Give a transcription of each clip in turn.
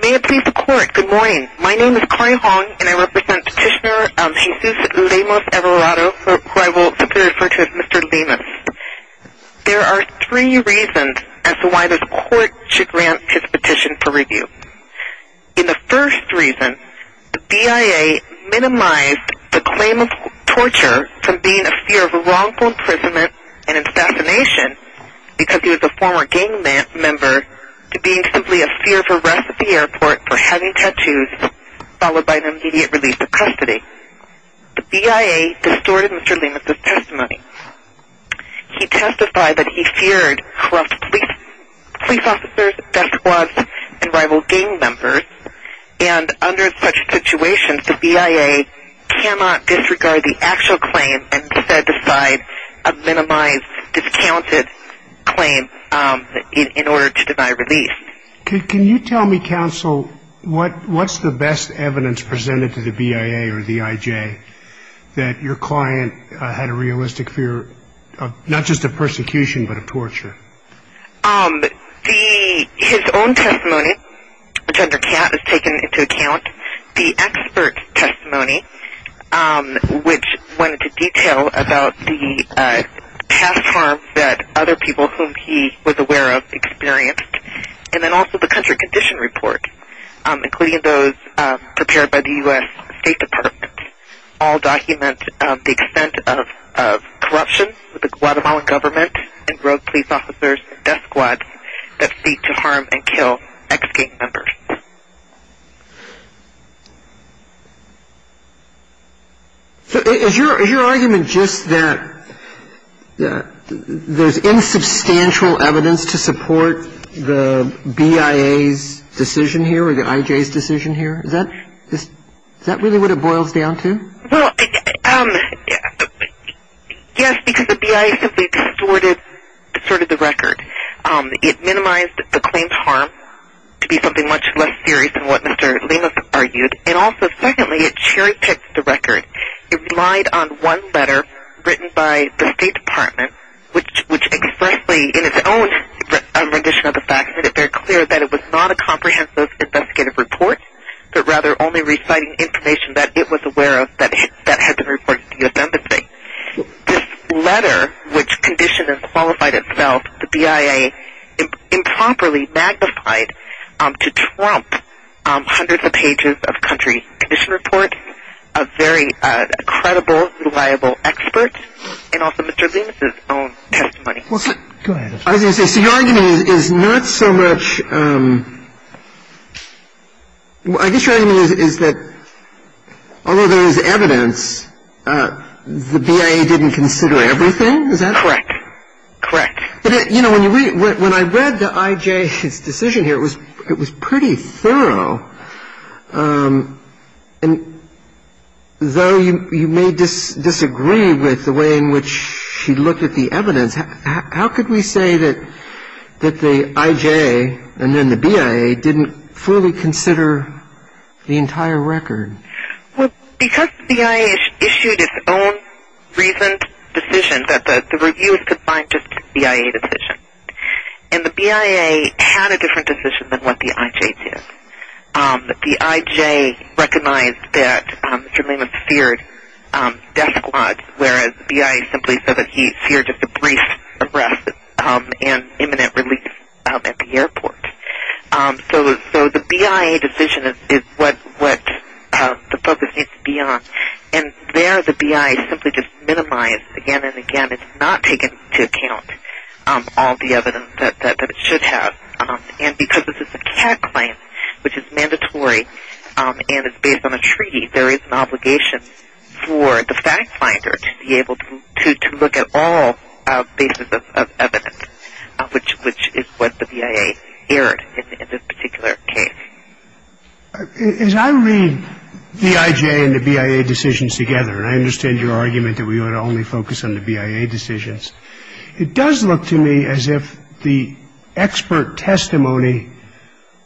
May it please the Court, good morning. My name is Corrie Hong, and I represent Petitioner Jesus Lemus-Everado, who I will simply refer to as Mr. Lemus. There are three reasons as to why this Court should grant his petition for review. In the first reason, the BIA minimized the claim of torture from being a fear of wrongful imprisonment and assassination, because he was a former gang member, to being simply a fear for arrest at the airport for having tattoos, followed by an immediate release of custody. The BIA distorted Mr. Lemus' testimony. He testified that he feared corrupt police officers, death squads, and rival gang members, and under such situations, the BIA cannot disregard the actual claim and instead decide a minimized, discounted claim in order to deny release. Can you tell me, counsel, what's the best evidence presented to the BIA or the IJ that your client had a realistic fear of not just of persecution, but of torture? His own testimony, which under CAT is taken into account, the expert testimony, which went into detail about the past harms that other people whom he was aware of experienced, and then also the country condition report, including those prepared by the U.S. State Department, all document the extent of corruption with the Guatemalan government and rogue police officers and death squads that seek to harm and kill ex-gang members. Is your argument just that there's insubstantial evidence to support the BIA's decision here or the IJ's decision here? Is that really what it boils down to? Well, yes, because the BIA simply distorted the record. It minimized the claim's harm to be something much less serious than what Mr. Lemus argued, and also, secondly, it cherry-picked the record. It relied on one letter written by the State Department, which expressly, in its own rendition of the facts, made it very clear that it was not a comprehensive investigative report, but rather only reciting information that it was aware of that had been reported to the U.S. Embassy. This letter, which conditioned and qualified itself, the BIA improperly magnified to trump hundreds of pages of country condition reports of very credible, reliable experts, and also Mr. Lemus' own testimony. So the BIA did not consider all of the evidence. I was going to say, so your argument is not so much – I guess your argument is that although there is evidence, the BIA didn't consider everything? Is that correct? Correct. When I read the IJA's decision here, it was pretty thorough. And though you may disagree with the way in which he looked at the evidence, how could we say that the IJA and then the BIA didn't fully consider the entire record? Well, because the BIA issued its own reasoned decision that the review was to find just the BIA's decision. And the BIA had a different decision than what the IJA did. The IJA recognized that Mr. Lemus feared death squads, whereas the BIA simply said that he feared just a brief arrest and imminent release at the airport. So the BIA decision is what the focus needs to be on. And there the BIA simply just minimized again and again. It's not taken into account all the evidence that it should have. And because this is a CAD claim, which is mandatory and is based on a treaty, there is an obligation for the fact finder to be able to look at all basis of evidence, which is what the BIA erred in this particular case. As I read the IJA and the BIA decisions together, and I understand your argument that we ought to only focus on the BIA decisions, it does look to me as if the expert testimony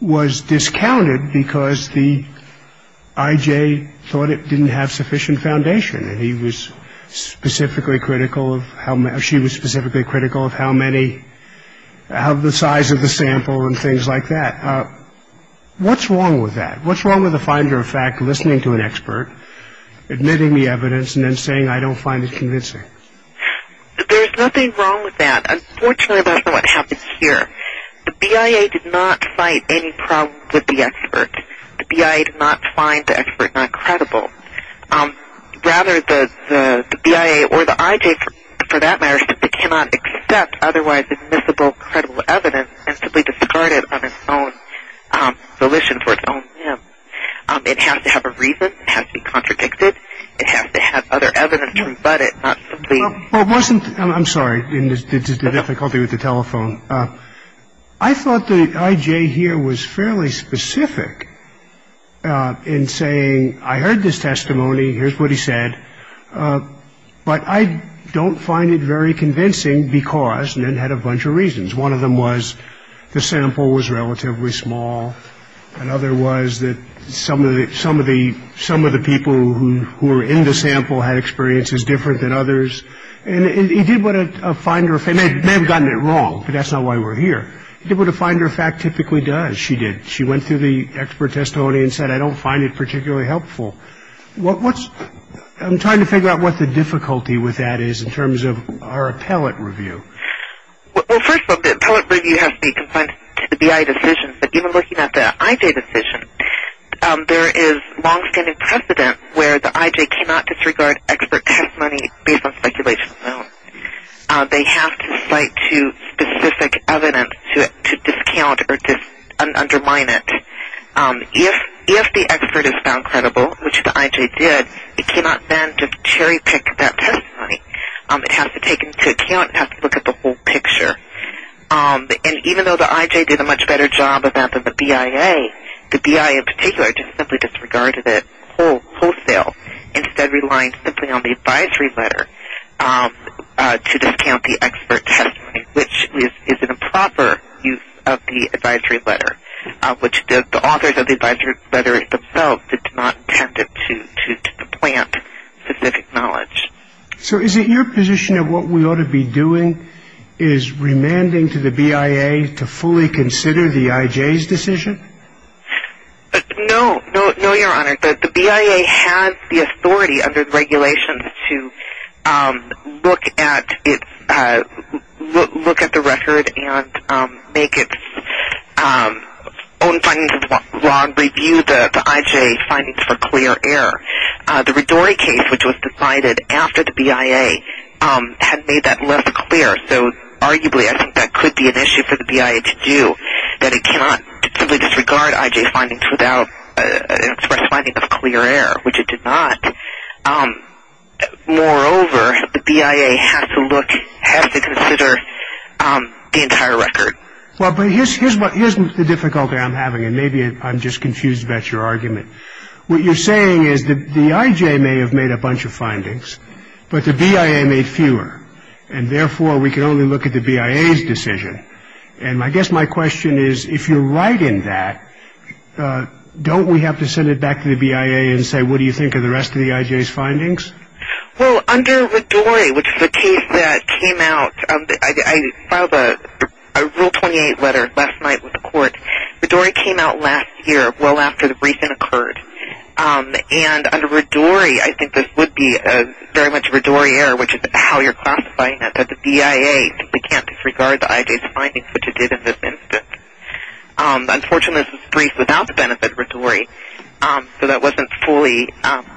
was discounted because the IJA thought it didn't have sufficient foundation. And he was specifically critical of how she was specifically critical of how many of the size of the sample and things like that. What's wrong with that? What's wrong with the finder of fact listening to an expert, admitting the evidence, and then saying, I don't find it convincing? There's nothing wrong with that. Unfortunately, that's not what happens here. The BIA did not fight any problem with the expert. The BIA did not find the expert not credible. Rather, the BIA or the IJA, for that matter, simply cannot accept otherwise admissible credible evidence and simply discard it on its own volition for its own whim. It has to have a reason. It has to be contradicted. It has to have other evidence to rebut it, not simply. Well, it wasn't. I'm sorry. This is the difficulty with the telephone. I thought the IJA here was fairly specific in saying, I heard this testimony. Here's what he said. But I don't find it very convincing because, and it had a bunch of reasons. One of them was the sample was relatively small. Another was that some of the people who were in the sample had experiences different than others. And he did want to find her a fact. He may have gotten it wrong, but that's not why we're here. He did want to find her a fact, typically does. She did. She went through the expert testimony and said, I don't find it particularly helpful. I'm trying to figure out what the difficulty with that is in terms of our appellate review. Well, first of all, the appellate review has to be confined to the BIA decision. But even looking at the IJA decision, there is longstanding precedent where the IJA cannot disregard expert testimony based on speculation alone. They have to cite specific evidence to discount or undermine it. If the expert is found credible, which the IJA did, it cannot then just cherry pick that testimony. It has to take into account and have to look at the whole picture. And even though the IJA did a much better job of that than the BIA, the BIA in particular just simply disregarded it wholesale, instead relying simply on the advisory letter to discount the expert testimony, which is an improper use of the advisory letter, which the authors of the advisory letters themselves did not intend to plant specific knowledge. So is it your position that what we ought to be doing is remanding to the BIA to fully consider the IJA's decision? No. No, Your Honor. The BIA has the authority under the regulations to look at the record and make its own findings of the law and review the IJA findings for clear error. The Ridori case, which was decided after the BIA, had made that less clear, so arguably I think that could be an issue for the BIA to do, that it cannot simply disregard IJA findings without an express finding of clear error, which it did not. Moreover, the BIA has to look, has to consider the entire record. Well, but here's the difficulty I'm having, and maybe I'm just confused about your argument. What you're saying is the IJA may have made a bunch of findings, but the BIA made fewer, and therefore we can only look at the BIA's decision. And I guess my question is, if you're right in that, don't we have to send it back to the BIA and say, what do you think of the rest of the IJA's findings? Well, under Ridori, which is the case that came out, I filed a Rule 28 letter last night with the court. Ridori came out last year, well after the briefing occurred. And under Ridori, I think this would be very much a Ridori error, which is how you're classifying it, that the BIA simply can't disregard the IJA's findings, which it did in this instance. Unfortunately, this was briefed without the benefit of Ridori, so that wasn't fully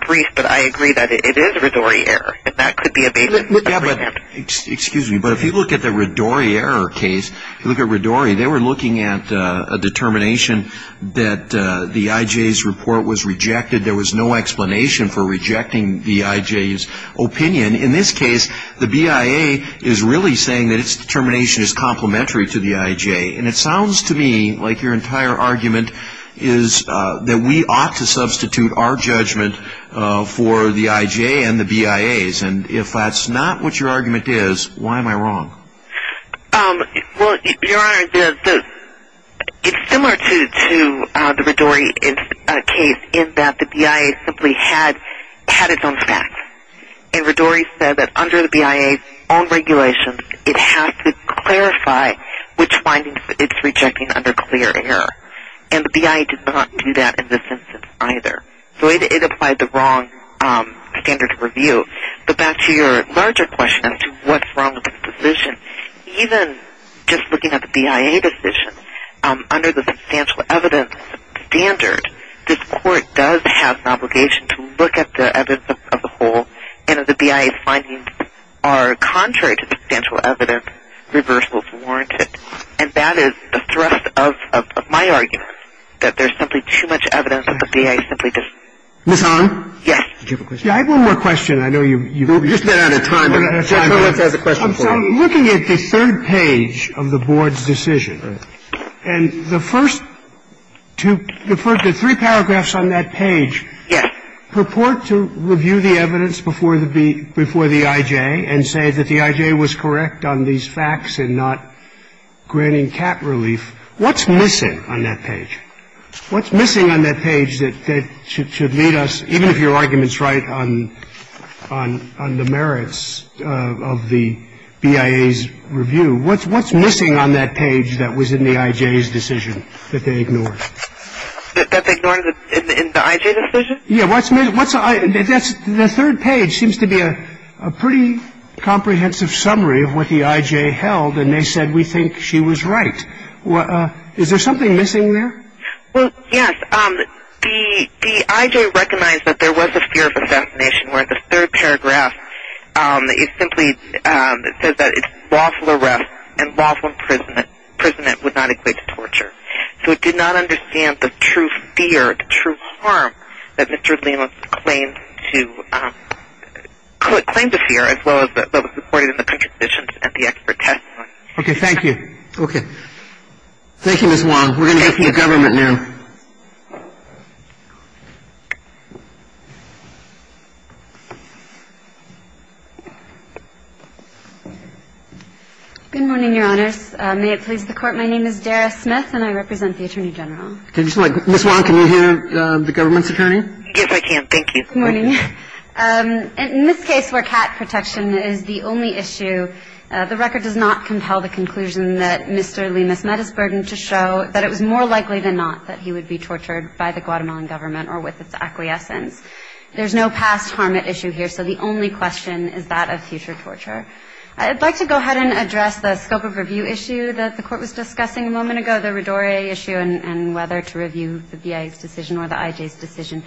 briefed, but I agree that it is a Ridori error, and that could be a basis. Excuse me, but if you look at the Ridori error case, if you look at Ridori, they were looking at a determination that the IJA's report was rejected. There was no explanation for rejecting the IJA's opinion. In this case, the BIA is really saying that its determination is complementary to the IJA. And it sounds to me like your entire argument is that we ought to substitute our judgment for the IJA and the BIA's. And if that's not what your argument is, why am I wrong? Well, Your Honor, it's similar to the Ridori case in that the BIA simply had its own facts. And Ridori said that under the BIA's own regulations, it has to clarify which findings it's rejecting under clear error. And the BIA did not do that in this instance either. So it applied the wrong standard of review. But back to your larger question as to what's wrong with this decision, even just looking at the BIA decision, under the substantial evidence standard, this Court does have an obligation to look at the evidence of the whole and if the BIA's findings are contrary to substantial evidence, reversal is warranted. And that is the thrust of my argument, that there's simply too much evidence and the BIA simply does not. Ms. Hahn? Yes. Did you have a question? Yeah, I have one more question. I know you've been out of time. I'm looking at the third page of the Board's decision. And the first two, the three paragraphs on that page purport to review the evidence before the IJA and say that the IJA was correct on these facts and not granting cat relief. What's missing on that page? What's missing on that page that should lead us, even if your argument's right, on the merits of the BIA's review? What's missing on that page that was in the IJA's decision that they ignored? That they ignored in the IJA decision? Yeah. The third page seems to be a pretty comprehensive summary of what the IJA held and they said we think she was right. Is there something missing there? Well, yes. The IJA recognized that there was a fear of assassination where the third paragraph simply says that it's lawful arrest and lawful imprisonment would not equate to torture. So it did not understand the true fear, the true harm that Mr. Lemos claimed to fear as well as what was reported in the contradictions at the expert testimony. Okay, thank you. Okay. Thank you, Ms. Wong. We're going to go to the government now. Good morning, Your Honors. May it please the Court, my name is Dara Smith and I represent the Attorney General. Ms. Wong, can you hear the government's attorney? Yes, I can. Thank you. Good morning. In this case where cat protection is the only issue, the record does not compel the conclusion that Mr. Lemos met his burden to show that it was more likely than not that he would be tortured by the Guatemalan government or with its acquiescence. There's no past harm at issue here, so the only question is that of future torture. I'd like to go ahead and address the scope of review issue that the Court was discussing a moment ago, the Radore issue and whether to review the VA's decision or the IJA's decision.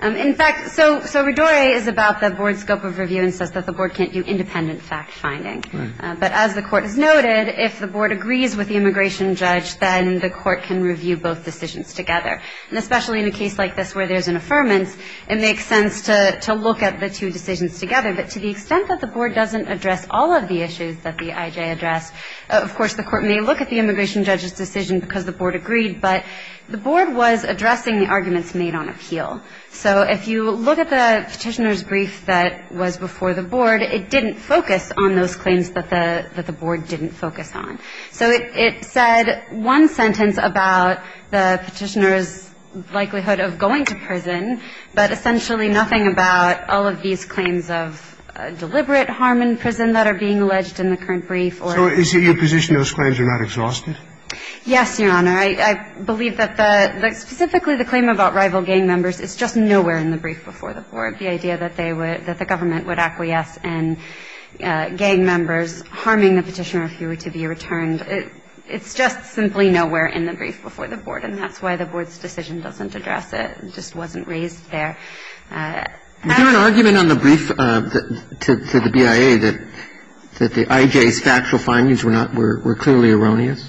In fact, so Radore is about the Board's scope of review and says that the Board can't do independent fact-finding. Right. But as the Court has noted, if the Board agrees with the immigration judge, then the Court can review both decisions together. And especially in a case like this where there's an affirmance, it makes sense to look at the two decisions together. But to the extent that the Board doesn't address all of the issues that the IJA addressed, of course, the Court may look at the immigration judge's decision because the Board agreed, but the Board was addressing the arguments made on appeal. So if you look at the Petitioner's brief that was before the Board, it didn't focus on those claims that the Board didn't focus on. So it said one sentence about the Petitioner's likelihood of going to prison, but essentially nothing about all of these claims of deliberate harm in prison that are being alleged in the current brief or anything. So is it your position those claims are not exhausted? Yes, Your Honor. I believe that specifically the claim about rival gang members is just nowhere in the brief before the Board. The idea that they would – that the government would acquiesce in gang members harming the Petitioner if he were to be returned, it's just simply nowhere in the brief before the Board. And that's why the Board's decision doesn't address it. It just wasn't raised there. Is there an argument on the brief to the BIA that the IJA's factual findings were clearly erroneous?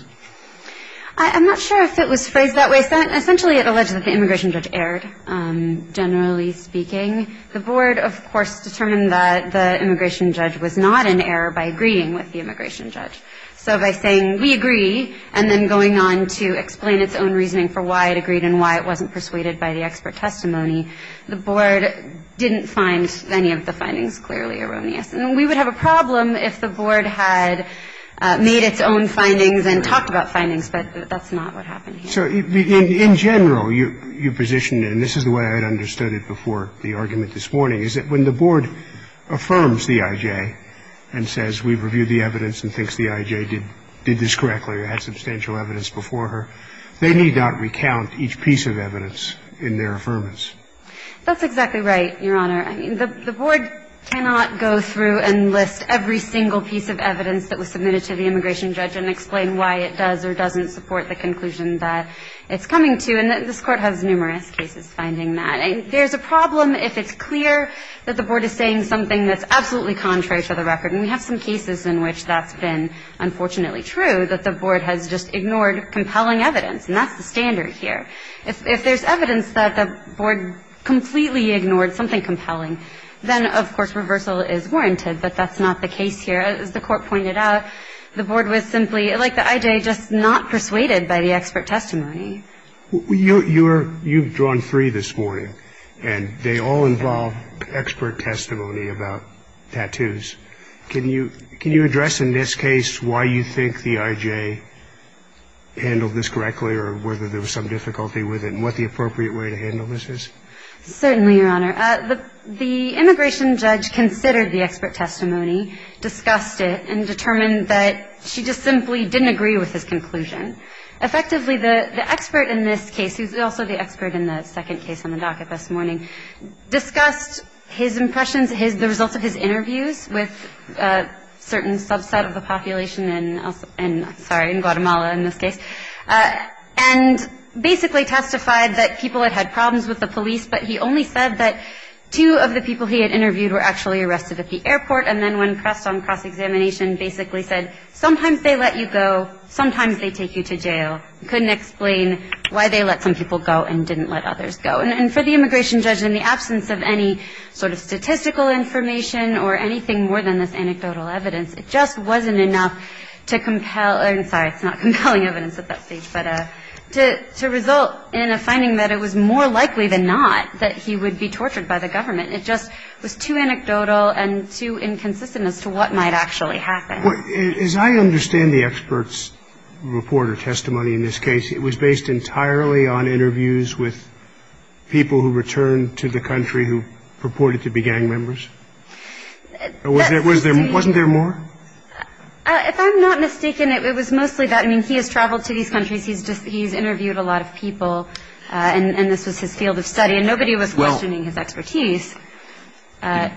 I'm not sure if it was phrased that way. Essentially it alleged that the immigration judge erred, generally speaking. The Board, of course, determined that the immigration judge was not in error by agreeing with the immigration judge. So by saying we agree and then going on to explain its own reasoning for why it agreed and why it wasn't persuaded by the expert testimony, the Board didn't find any of the findings clearly erroneous. And we would have a problem if the Board had made its own findings and talked about findings. But that's not what happened here. So in general, you positioned it, and this is the way I had understood it before the argument this morning, is that when the Board affirms the IJA and says we've reviewed the evidence and thinks the IJA did this correctly or had substantial evidence before her, they need not recount each piece of evidence in their affirmance. That's exactly right, Your Honor. I mean, the Board cannot go through and list every single piece of evidence that was submitted to the immigration judge and explain why it does or doesn't support the conclusion that it's coming to. And this Court has numerous cases finding that. And there's a problem if it's clear that the Board is saying something that's absolutely contrary to the record. And we have some cases in which that's been unfortunately true, that the Board has just ignored compelling evidence. And that's the standard here. If there's evidence that the Board completely ignored something compelling, then, of course, reversal is warranted. But that's not the case here. As the Court pointed out, the Board was simply, like the IJA, just not persuaded by the expert testimony. You've drawn three this morning, and they all involve expert testimony about tattoos. Can you address in this case why you think the IJA handled this correctly or whether there was some difficulty with it and what the appropriate way to handle this is? Certainly, Your Honor. The immigration judge considered the expert testimony, discussed it, and determined that she just simply didn't agree with his conclusion. Effectively, the expert in this case, who's also the expert in the second case on the docket this morning, discussed his impressions, the results of his interviews with a certain subset of the population in Guatemala in this case, and basically testified that people had had problems with the police, but he only said that two of the people he had interviewed were actually arrested at the airport. And then when pressed on cross-examination, basically said, sometimes they let you go, sometimes they take you to jail. Couldn't explain why they let some people go and didn't let others go. And for the immigration judge, in the absence of any sort of statistical information or anything more than this anecdotal evidence, it just wasn't enough to compel her I'm sorry, it's not compelling evidence at that stage, but to result in a finding that it was more likely than not that he would be tortured by the government. It just was too anecdotal and too inconsistent as to what might actually happen. As I understand the expert's report or testimony in this case, it was based entirely on interviews with people who returned to the country who purported to be gang members? Wasn't there more? If I'm not mistaken, it was mostly that. I mean, he has traveled to these countries, he's interviewed a lot of people, and this was his field of study, and nobody was questioning his expertise. I'm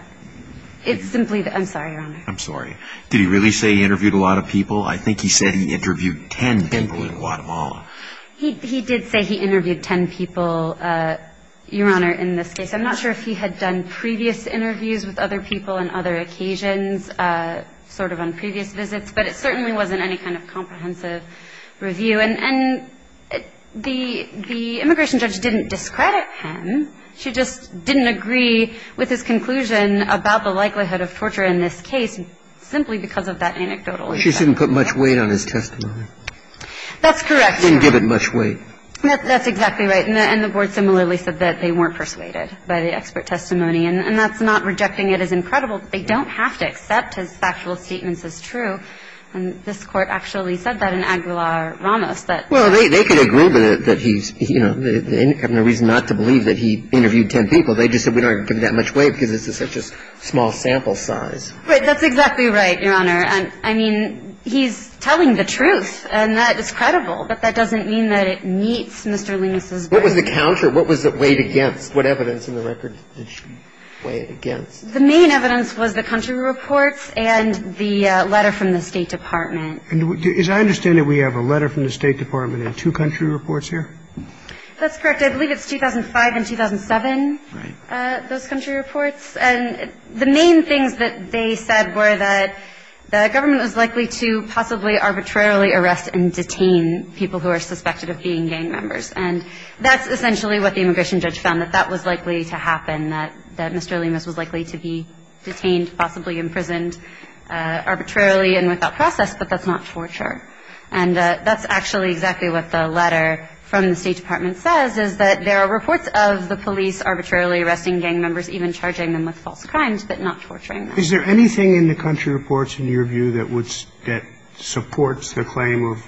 sorry, Your Honor. I'm sorry. Did he really say he interviewed a lot of people? I think he said he interviewed ten people in Guatemala. He did say he interviewed ten people, Your Honor, in this case. I'm not sure if he had done previous interviews with other people on other occasions, sort of on previous visits, but it certainly wasn't any kind of comprehensive review. And the immigration judge didn't discredit him. She just didn't agree with his conclusion about the likelihood of torture in this case, simply because of that anecdotal evidence. She didn't put much weight on his testimony. That's correct. She didn't give it much weight. That's exactly right. And the board similarly said that they weren't persuaded by the expert testimony. And that's not rejecting it as incredible. They don't have to accept his factual statements as true. And this Court actually said that in Aguilar-Ramos. Well, they could agree with it, that he's, you know, they have no reason not to believe that he interviewed ten people. They just said we don't give it that much weight because it's such a small sample size. That's exactly right, Your Honor. I mean, he's telling the truth, and that is credible. But that doesn't mean that it meets Mr. Lemus's verdict. What was the counter? What was it weighed against? What evidence in the record did she weigh it against? The main evidence was the country reports and the letter from the State Department. As I understand it, we have a letter from the State Department and two country reports here? That's correct. I believe it's 2005 and 2007, those country reports. And the main things that they said were that the government was likely to possibly arbitrarily arrest and detain people who are suspected of being gang members. And that's essentially what the immigration judge found, that that was likely to happen, that Mr. Lemus was likely to be detained, possibly imprisoned arbitrarily and without process, but that's not torture. And that's actually exactly what the letter from the State Department says, is that there are reports of the police arbitrarily arresting gang members, even charging them with false crimes, but not torturing them. Is there anything in the country reports, in your view, that supports the claim of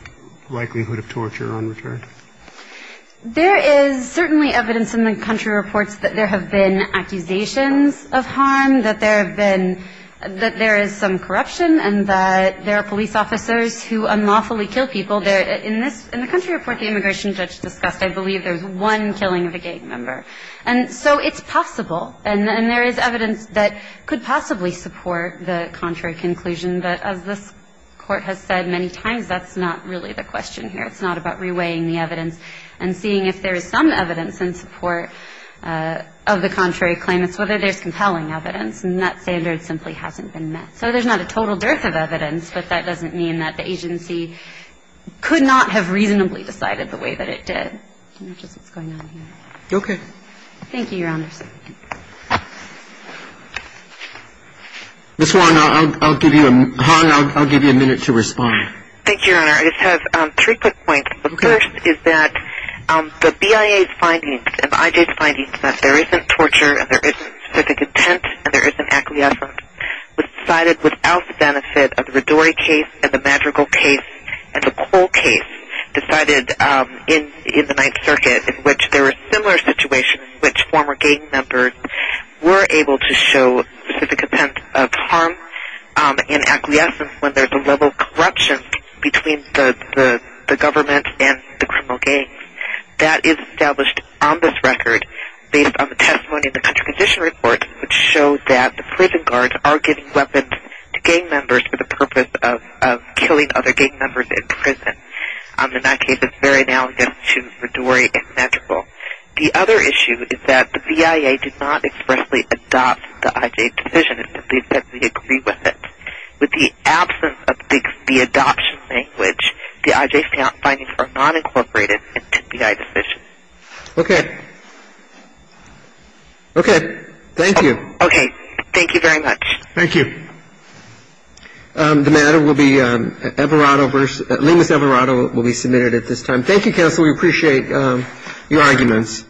likelihood of torture on return? There is certainly evidence in the country reports that there have been accusations of harm, that there have been – that there is some corruption and that there are police officers who unlawfully kill people. In the country report the immigration judge discussed, I believe there's one killing of a gang member. And so it's possible, and there is evidence that could possibly support the contrary conclusion that, as this Court has said many times, that's not really the question here. It's not about reweighing the evidence and seeing if there is some evidence in support of the contrary claim. It's whether there's compelling evidence, and that standard simply hasn't been met. So there's not a total dearth of evidence, but that doesn't mean that the agency could not have reasonably decided the way that it did. I don't know just what's going on here. Okay. Thank you, Your Honor. Ms. Hahn, I'll give you a minute to respond. Thank you, Your Honor. I just have three quick points. The first is that the BIA's findings, and the IJ's findings, that there isn't torture and there isn't specific intent and there isn't acquiescence, was decided without the benefit of the Rodori case and the Madrigal case and the Cole case decided in the Ninth Circuit, in which there were similar situations in which former gang members were able to show specific intent of harm and acquiescence when there's a level of corruption between the government and the criminal gangs. That is established on this record based on the testimony of the Country Condition Report, which shows that the prison guards are giving weapons to gang members for the purpose of killing other gang members in prison. In that case, it's very analogous to the Rodori and Madrigal. The other issue is that the BIA did not expressly adopt the IJ's decision until they said they agree with it. With the absence of the adoption language, the IJ's findings are not incorporated into the IJ's decision. Okay. Okay. Thank you. Okay. Thank you very much. Thank you. The matter will be Lemos Everado will be submitted at this time. Thank you, Counsel. We appreciate your arguments.